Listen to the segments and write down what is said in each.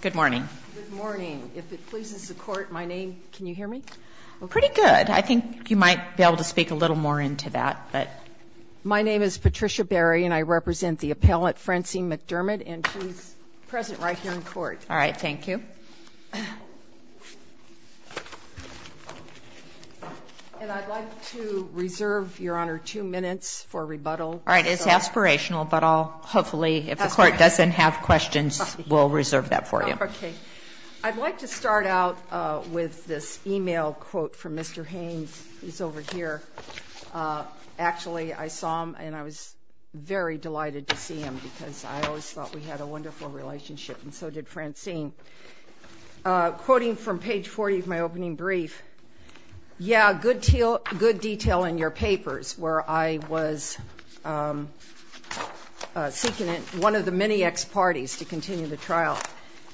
Good morning. Good morning. If it pleases the Court, my name, can you hear me? Pretty good. I think you might be able to speak a little more into that. My name is Patricia Berry, and I represent the appellate Francine McDermott, and she's present right here in court. All right. Thank you. And I'd like to reserve, Your Honor, two minutes for rebuttal. All right. It's aspirational, but I'll hopefully, if the Court doesn't have questions, we'll reserve that for you. Okay. I'd like to start out with this e-mail quote from Mr. Haynes. He's over here. Actually, I saw him, and I was very delighted to see him, because I always thought we had a wonderful relationship, and so did Francine. Quoting from page 40 of my opening brief, he said,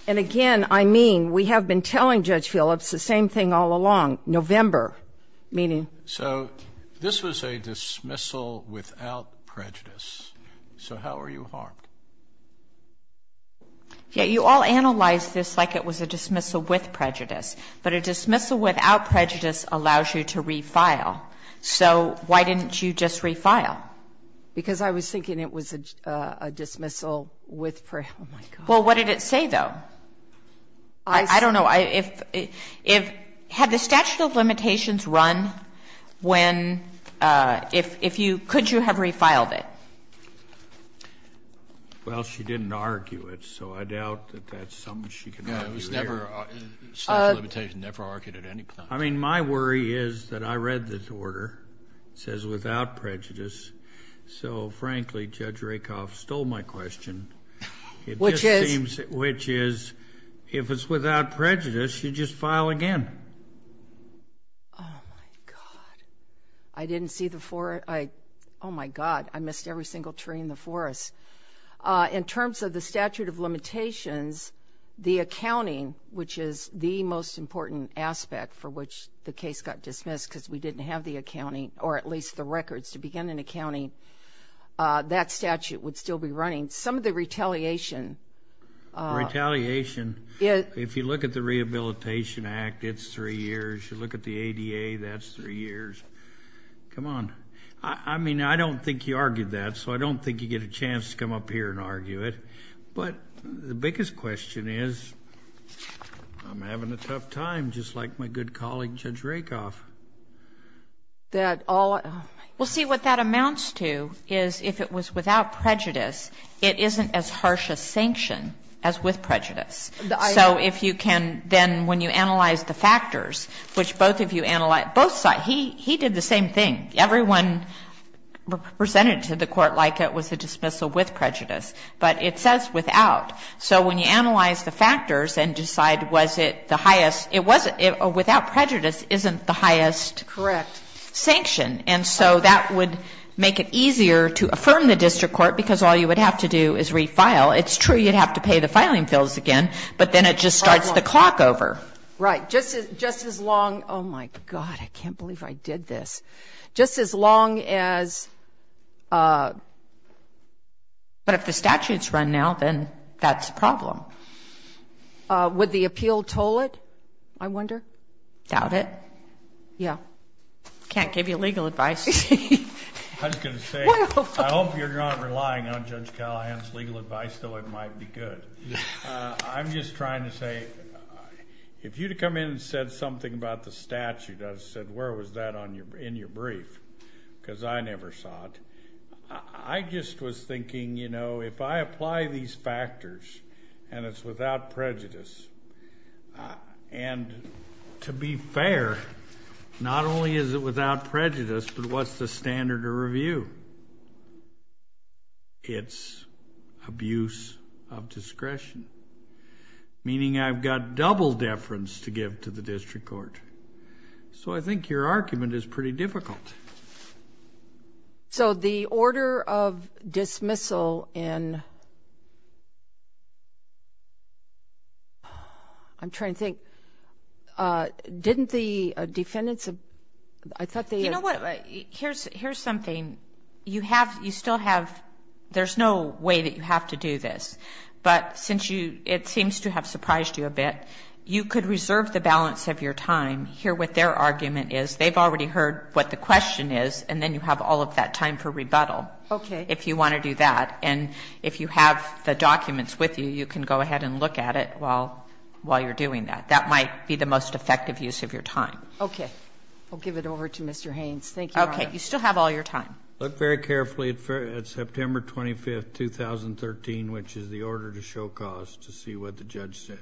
and again, I mean, we have been telling Judge Phillips the same thing all along, November, meaning. So this was a dismissal without prejudice. So how are you harmed? You all analyzed this like it was a dismissal with prejudice, but a dismissal without prejudice allows you to refile. So why didn't you just refile? Because I was thinking it was a dismissal with prejudice. Well, what did it say, though? I don't know. Had the statute of limitations run when, if you, could you have refiled it? Well, she didn't argue it, so I doubt that that's something she can argue here. No, it was never, the statute of limitations never argued at any point. I mean, my worry is that I read the order. It says without prejudice. So, frankly, Judge Rakoff stole my question. Which is, if it's without prejudice, you just file again. Oh, my God. I didn't see the four. Oh, my God, I missed every single tree in the forest. In terms of the statute of limitations, the accounting, which is the most important aspect for which the case got dismissed, because we didn't have the accounting, or at least the records to begin in accounting, that statute would still be running. Some of the retaliation. Retaliation. If you look at the Rehabilitation Act, it's three years. You look at the ADA, that's three years. Come on. I mean, I don't think he argued that, so I don't think you get a chance to come up here and argue it. But the biggest question is, I'm having a tough time, just like my good colleague, Judge Rakoff. That all of them. Well, see, what that amounts to is, if it was without prejudice, it isn't as harsh a sanction as with prejudice. So if you can then, when you analyze the factors, which both of you analyzed, both sides, he did the same thing. Everyone presented to the court like it was a dismissal with prejudice. But it says without. So when you analyze the factors and decide was it the highest, without prejudice isn't the highest sanction. And so that would make it easier to affirm the district court, because all you would have to do is refile. It's true you'd have to pay the filing bills again, but then it just starts the clock over. Right. Just as long. Oh, my God. I can't believe I did this. Just as long as. But if the statutes run now, then that's a problem. Would the appeal toll it? I wonder. Doubt it. Yeah. Can't give you legal advice. I hope you're not relying on Judge Callahan's legal advice, though. It might be good. I'm just trying to say if you to come in and said something about the statute, I said, where was that on your in your brief? Because I never saw it. I just was thinking, you know, if I apply these factors and it's without prejudice and to be fair, not only is it without prejudice, but what's the standard of review? It's abuse of discretion, meaning I've got double deference to give to the district court. So I think your argument is pretty difficult. So the order of dismissal and. I'm trying to think, didn't the defendants, I thought they. You know what? Here's here's something you have. You still have. There's no way that you have to do this. But since you it seems to have surprised you a bit, you could reserve the balance of your time here with their argument is they've already heard what the question is, and then you have all of that time for rebuttal. Okay. If you want to do that. And if you have the documents with you, you can go ahead and look at it while while you're doing that. That might be the most effective use of your time. Okay. I'll give it over to Mr. Haynes. Thank you. Okay. You still have all your time. Look very carefully at September 25th, 2013, which is the order to show cause to see what the judge said.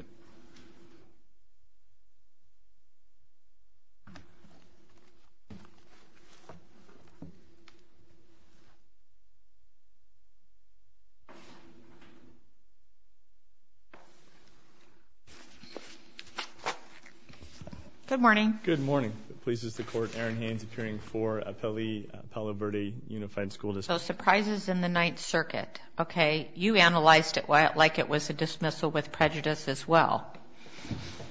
Good morning. Good morning. Pleases the court. Aaron Haynes appearing for appellee Palo Verde Unified School District. So surprises in the Ninth Circuit. Okay. You analyzed it like it was a dismissal with prejudice as well.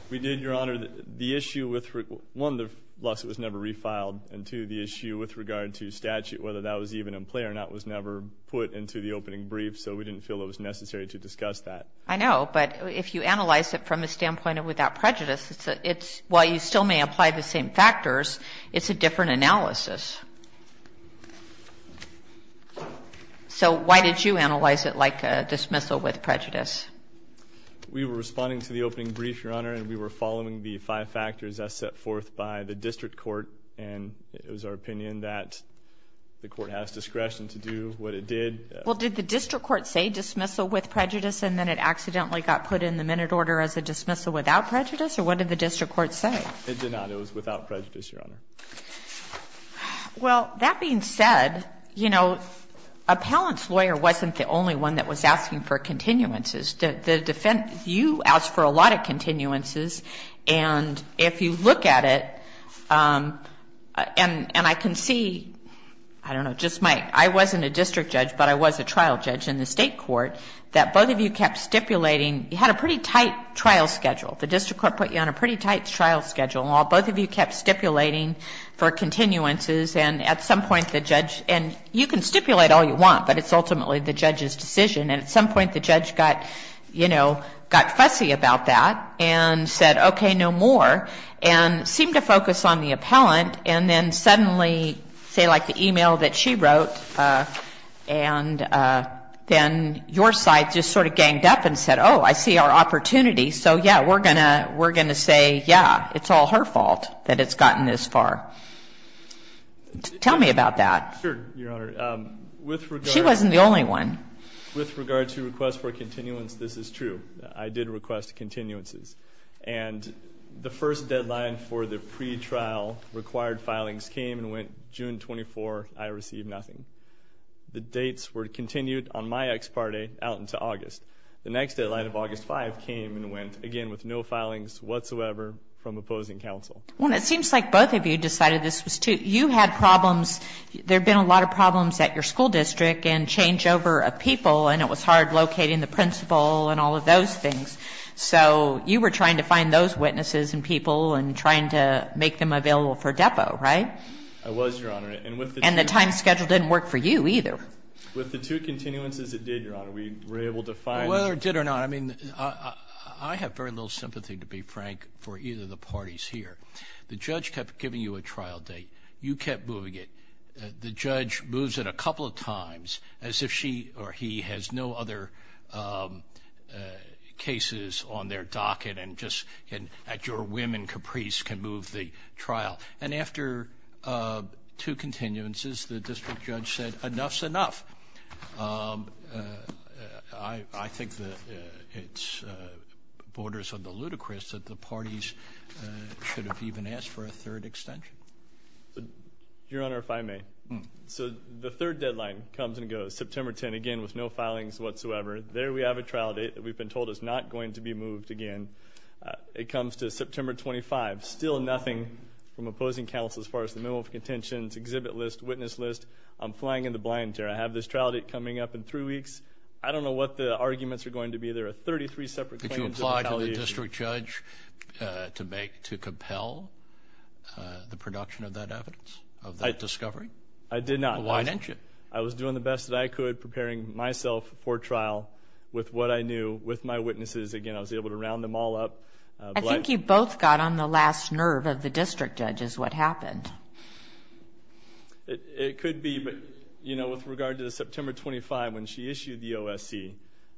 We did, Your Honor. The issue with one, the lawsuit was never refiled into the issue with regard to statute, whether that was even in play or not was never put into the opening brief. So we didn't feel it was necessary to discuss that. I know. But if you analyze it from a standpoint of without prejudice, it's why you still may apply the same factors. It's a different analysis. So why did you analyze it like dismissal with prejudice? We were responding to the opening brief, Your Honor, and we were following the five factors as set forth by the district court. And it was our opinion that the court has discretion to do what it did. Well, did the district court say dismissal with prejudice and then it accidentally got put in the minute order as a dismissal without prejudice? Or what did the district court say? It did not. It was without prejudice, Your Honor. Well, that being said, you know, appellant's lawyer wasn't the only one that was asking for continuances. The defense, you asked for a lot of continuances. And if you look at it, and I can see, I don't know, just my, I wasn't a district judge, but I was a trial judge in the state court, that both of you kept stipulating, you had a pretty tight trial schedule. The district court put you on a pretty tight trial schedule. While both of you kept stipulating for continuances, and at some point the judge, and you can stipulate all you want, but it's ultimately the judge's decision. And at some point the judge got, you know, got fussy about that and said, okay, no more, and seemed to focus on the appellant, and then suddenly, say like the e-mail that she wrote, and then your side just sort of ganged up and said, oh, I see our opportunity, so, yeah, we're going to say, yeah, it's all her fault that it's gotten this far. Tell me about that. Sure, Your Honor. With regard to request for continuance, this is true. I did request continuances. And the first deadline for the pre-trial required filings came and went June 24th, I received nothing. The dates were continued on my ex parte out into August. The next deadline of August 5th came and went, again, with no filings whatsoever from opposing counsel. Well, it seems like both of you decided this was too, you had problems, there had been a lot of problems at your school district and changeover of people, and it was hard locating the principal and all of those things. So you were trying to find those witnesses and people and trying to make them available for depo, right? I was, Your Honor. And with the two. And the time schedule didn't work for you either. With the two continuances it did, Your Honor, we were able to find. Whether it did or not, I mean, I have very little sympathy, to be frank, for either of the parties here. The judge kept giving you a trial date. You kept moving it. The judge moves it a couple of times as if she or he has no other cases on their docket and just at your whim and caprice can move the trial. And after two continuances, the district judge said enough's enough. I think that it borders on the ludicrous that the parties should have even asked for a third extension. Your Honor, if I may. So the third deadline comes and goes, September 10, again with no filings whatsoever. There we have a trial date that we've been told is not going to be moved again. It comes to September 25. Still nothing from opposing counsel as far as the memo of contentions, exhibit list, witness list. I'm flying in the blind here. I have this trial date coming up in three weeks. I don't know what the arguments are going to be. There are 33 separate claims. Did you apply to the district judge to make, to compel the production of that evidence, of that discovery? I did not. Why didn't you? I was doing the best that I could, preparing myself for trial with what I knew, with my knowledge, with what I knew. And that's what happened. It could be. But, you know, with regard to the September 25, when she issued the OSC,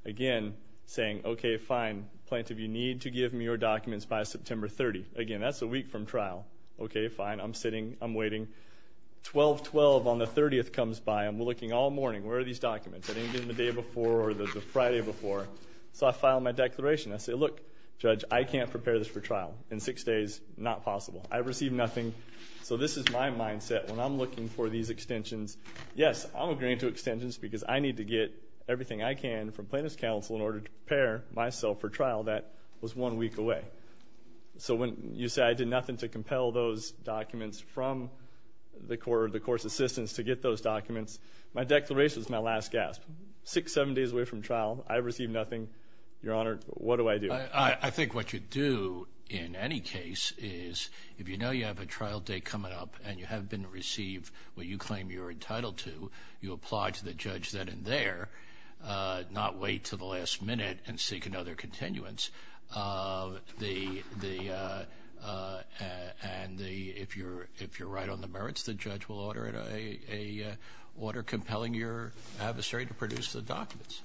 again, saying, okay, fine. Plaintiff, you need to give me your documents by September 30. Again, that's a week from trial. Okay, fine. I'm sitting. I'm waiting. 12-12 on the 30th comes by. I'm looking all morning. Where are these documents? I didn't get them the day before or the Friday before. So I file my declaration. I say, look, judge, I can't prepare this for trial. In six days, not possible. I received nothing. So this is my mindset when I'm looking for these extensions. Yes, I'm agreeing to extensions because I need to get everything I can from plaintiff's counsel in order to prepare myself for trial that was one week away. So when you say I did nothing to compel those documents from the court or the court's assistants to get those documents, my declaration is my last gasp. Six, seven days away from trial. I received nothing. Your Honor, what do I do? I think what you do in any case is if you know you have a trial date coming up and you have been received what you claim you're entitled to, you apply to the judge then and there, not wait to the last minute and seek another continuance. And if you're right on the merits, the judge will order compelling your adversary to produce the documents.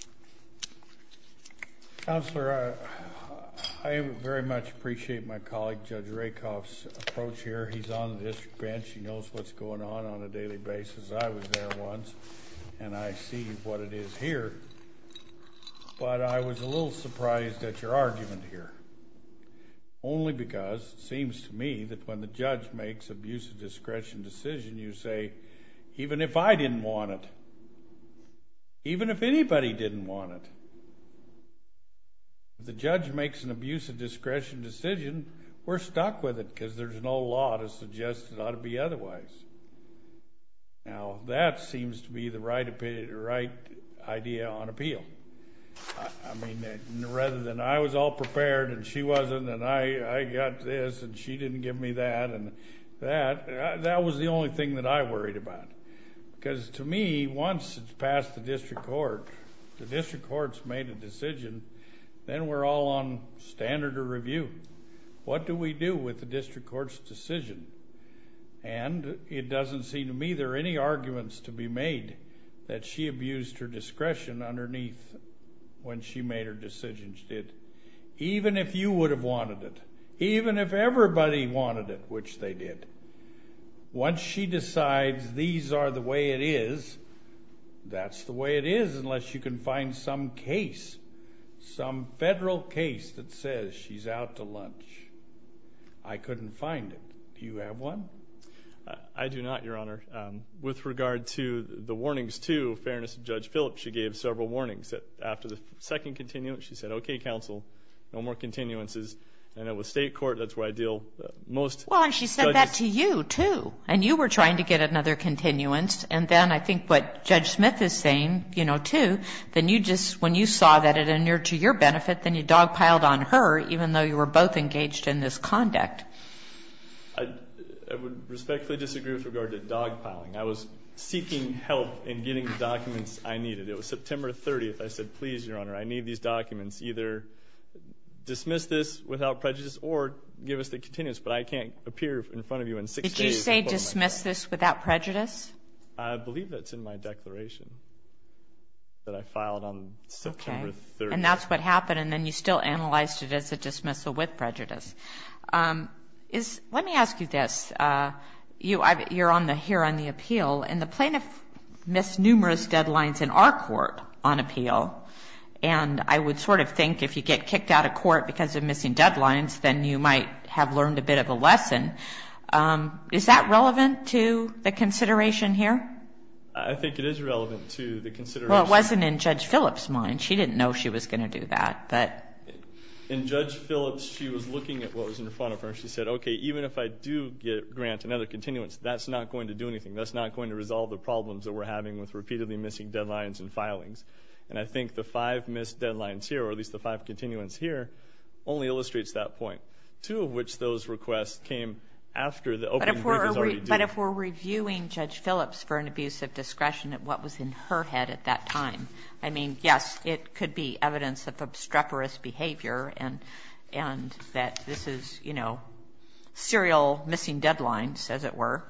Counselor, I very much appreciate my colleague Judge Rakoff's approach here. He's on the district bench. He knows what's going on on a daily basis. I was there once and I see what it is here, but I was a little surprised at your argument here. Only because it seems to me that when the judge makes an abuse of discretion decision, you say even if I didn't want it, even if anybody didn't want it, if the judge makes an abuse of discretion decision, we're stuck with it because there's no law to suggest it ought to be otherwise. Now, that seems to be the right idea on appeal. I mean, rather than I was all prepared and she wasn't and I got this and she didn't give me that and that, that was the only thing that I worried about. Because to me, once it's passed the district court, the district court's made a decision, then we're all on standard of review. What do we do with the district court's decision? And it doesn't seem to me there are any arguments to be made that she abused her discretion underneath when she made her decision. Even if you would have wanted it. Even if everybody wanted it, which they did. Once she decides these are the way it is, that's the way it is unless you can find some case, some federal case that says she's out to lunch. I couldn't find it. Do you have one? I do not, Your Honor. With regard to the warnings to Fairness of Judge Phillips, she gave several warnings that after the second continuance, she said, okay, counsel, no more continuances. And with state court, that's where I deal most. Well, and she said that to you, too. And you were trying to get to her. And you just, when you saw that it inured to your benefit, then you dogpiled on her, even though you were both engaged in this conduct. I would respectfully disagree with regard to dogpiling. I was seeking help in getting the documents I needed. It was September 30th. I said, please, Your Honor, I need these documents. Either dismiss this without prejudice or give us the continuance. But I can't appear in front of you in six days. Did you say dismiss this without prejudice? I did. I did. I was able to do that on September 30th. And that's what happened. And then you still analyzed it as a dismissal with prejudice. Let me ask you this. You're here on the appeal. And the plaintiff missed numerous deadlines in our court on appeal. And I would sort of think if you get kicked out of court because of missing deadlines, then you might have learned a bit of a lesson. Is that relevant to the consideration here? I think it is relevant to the consideration. Well, it wasn't in Judge Phillips' mind. She didn't know she was going to do that. In Judge Phillips, she was looking at what was in front of her. She said, okay, even if I do grant another continuance, that's not going to do anything. That's not going to resolve the problems that we're having with repeatedly missing deadlines and filings. And I think the five missed deadlines here, or at least the five continuance here, only illustrates that point. Two of which those requests came after the opening brief was already due. But if we're reviewing Judge Phillips for an abuse of discretion at what was in her head at that time, I mean, yes, it could be evidence of obstreperous behavior and that this is, you know, serial missing deadlines, as it were.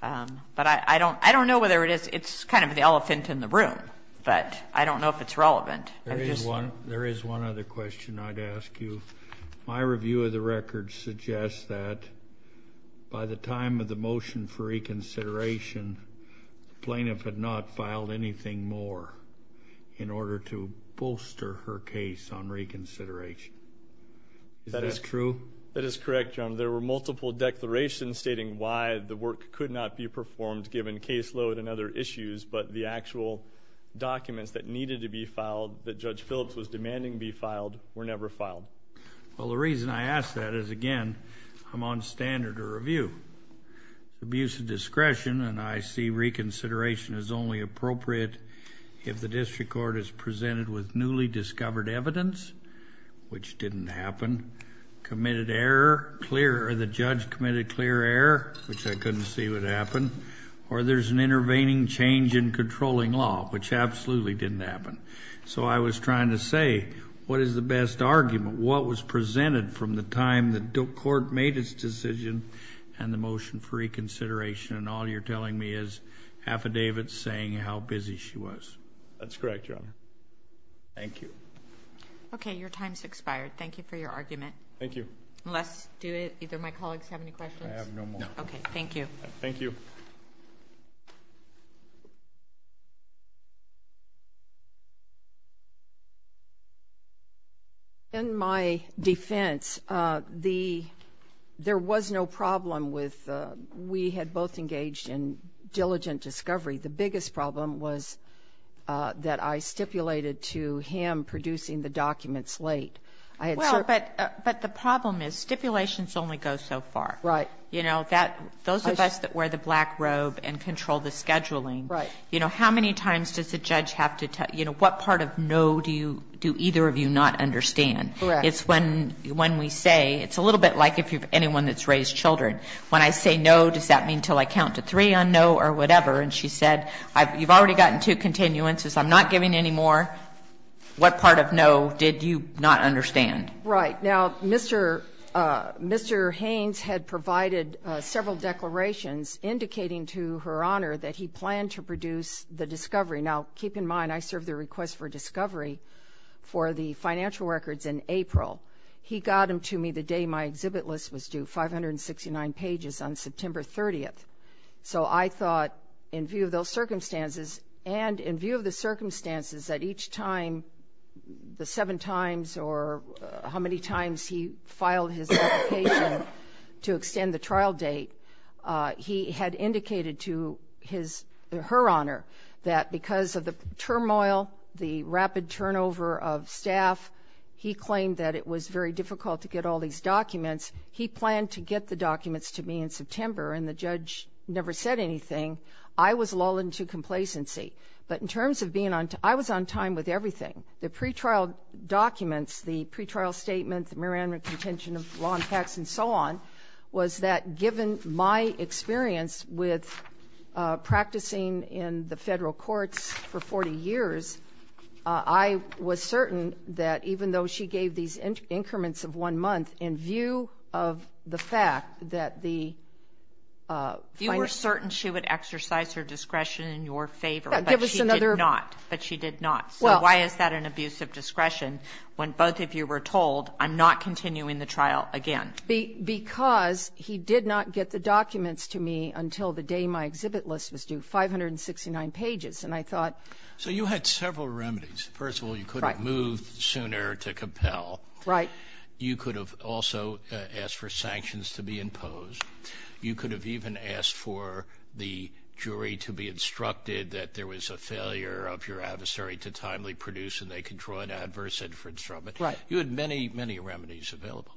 But I don't know whether it is. It's kind of the elephant in the room. But I don't know if it's relevant. There is one other question I'd ask you. My review of the record suggests that by the time of the motion for reconsideration, the plaintiff had not filed anything more in order to bolster her case on reconsideration. Is that true? That is correct, Your Honor. There were multiple declarations stating why the work could not be performed given caseload and other issues, but the actual documents that needed to be filed, that Judge Phillips was demanding be filed, were never filed. Well, the reason I ask that is, again, I'm on standard of review. Abuse of discretion, and I see reconsideration as only appropriate if the district court is presented with newly discovered evidence, which didn't happen, committed error, clear, or the judge committed clear error, which I couldn't see would happen, or there's an intervening change in controlling law, which absolutely didn't happen. So I was trying to say, what is the best argument? What was presented from the time the court made its decision and the motion for reconsideration? And all you're telling me is affidavits saying how busy she was. That's correct, Your Honor. Thank you. Okay, your time's expired. Thank you for your argument. Thank you. Unless, do either of my colleagues have any questions? I have no more. Okay, thank you. Thank you. In my defense, there was no problem with, we had both engaged in diligent discovery. The biggest problem was that I stipulated to him producing the documents late. Well, but the problem is stipulations only go so far. Right. You know, those of us that wear the black robe and control the scheduling, you know, how many times does the judge have to tell, you know, what part of no do you, do either of you not understand? Correct. It's when we say, it's a little bit like anyone that's raised children. When I say no, does that mean until I count to three on no or whatever? And she said, you've already gotten two continuances. I'm not giving any more. What part of no did you not understand? Right. Now, Mr. Haynes had provided several declarations indicating to Her Honor that he planned to produce the discovery. Now, keep in mind, I served the request for discovery for the financial records in April. He got them to me the day my exhibit list was due, 569 pages on September 30th. So I thought in view of those circumstances and in view of the circumstances that each time the seven times or how many times he filed his application to extend the trial date, he had indicated to his, Her Honor, that because of the turmoil, the rapid turnover of staff, he claimed that it was very difficult to get all these documents. He planned to get the documents to me in September, and the judge never said anything. I was lulled into complacency. But in terms of being on, I was on time with everything. The pretrial documents, the pretrial statement, the Miranda contention of law impacts and so on, was that given my experience with practicing in the federal courts for 40 years, I was certain that even though she gave these increments of one month in view of the fact that the You were certain she would exercise her discretion in your favor, but she did not. But she did not. So why is that an abuse of discretion when both of you were told, I'm not continuing the trial again? Because he did not get the documents to me until the day my exhibit list was due, 569 pages. And I thought So you had several remedies. First of all, you could have moved sooner to compel. Right. You could have also asked for sanctions to be imposed. You could have even asked for the jury to be instructed that there was a failure of your adversary to timely produce, and they could draw an adverse inference from it. Right. You had many, many remedies available.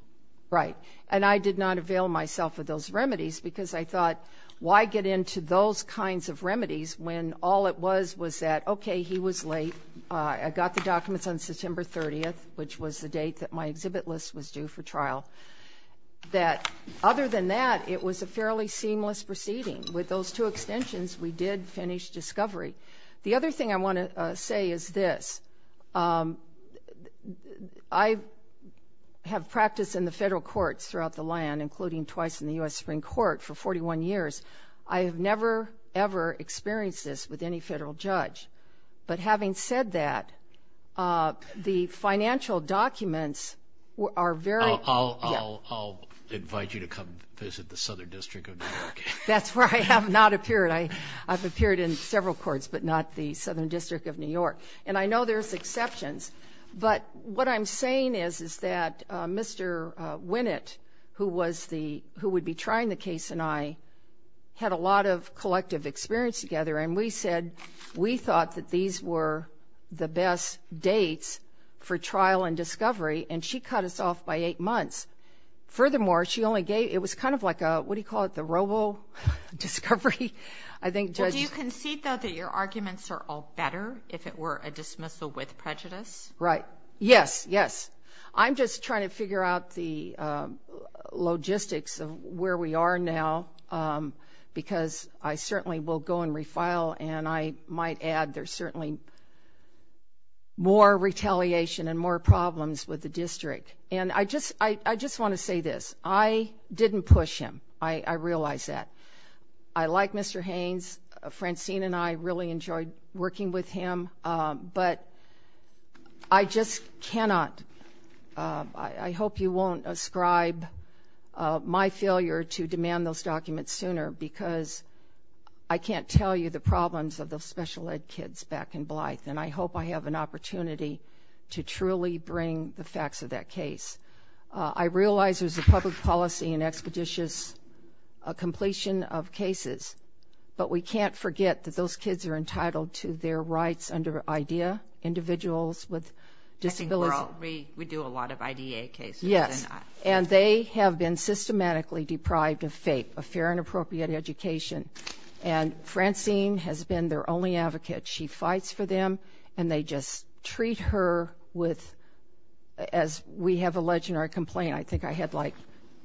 Right. And I did not avail myself of those remedies, because I thought, why get into those kinds of remedies when all it was was that, okay, he was late, I got the documents on September 30th, which was the date that my exhibit list was due for trial, that other than that, it was a fairly seamless proceeding. With those two extensions, we did finish discovery. The other thing I want to say is this. I have practiced in the federal courts throughout the land, including twice in the U.S. Supreme Court, for 41 years. I have never, ever experienced this with any federal judge. But having said that, the financial documents are very I'll invite you to come visit the Southern District of New York. That's where I have not appeared. I've appeared in several courts, but not the Southern District of New York. And I know there's exceptions. But what I'm saying is, is that Mr. Winnett, who was the who would be trying the case, and I had a lot of thought that these were the best dates for trial and discovery. And she cut us off by eight months. Furthermore, she only gave, it was kind of like a, what do you call it, the robo-discovery? I think judges Well, do you concede, though, that your arguments are all better if it were a dismissal with prejudice? Right. Yes, yes. I'm just trying to figure out the logistics of where we are now, because I certainly will go and there's certainly more retaliation and more problems with the district. And I just I just want to say this. I didn't push him. I realized that I like Mr. Haynes. Francine and I really enjoyed working with him. But I just cannot. I hope you won't ascribe my failure to demand those documents sooner, because I can't tell you the problems of those special ed kids back in Blythe. And I hope I have an opportunity to truly bring the facts of that case. I realize there's a public policy and expeditious completion of cases, but we can't forget that those kids are entitled to their rights under IDEA, individuals with disabilities. I think we do a lot of IDEA cases. Yes. And they have been systematically deprived of FAPE, a Fair and Appropriate Education. And Francine has been their only advocate. She fights for them and they just treat her with, as we have alleged in our complaint, I think I had like,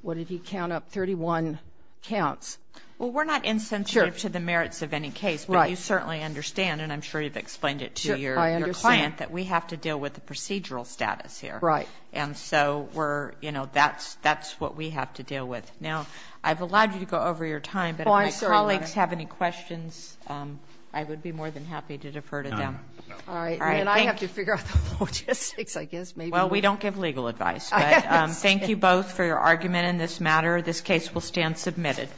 what did he count up, 31 counts. Well, we're not insensitive to the merits of any case, but you certainly understand, and I'm sure you've explained it to your client, that we have to deal with the procedural status here. Right. That's what we have to deal with. Now, I've allowed you to go over your time, but if my colleagues have any questions, I would be more than happy to defer to them. I have to figure out the logistics, I guess. Well, we don't give legal advice. Thank you both for your argument in this matter. This case will stand submitted.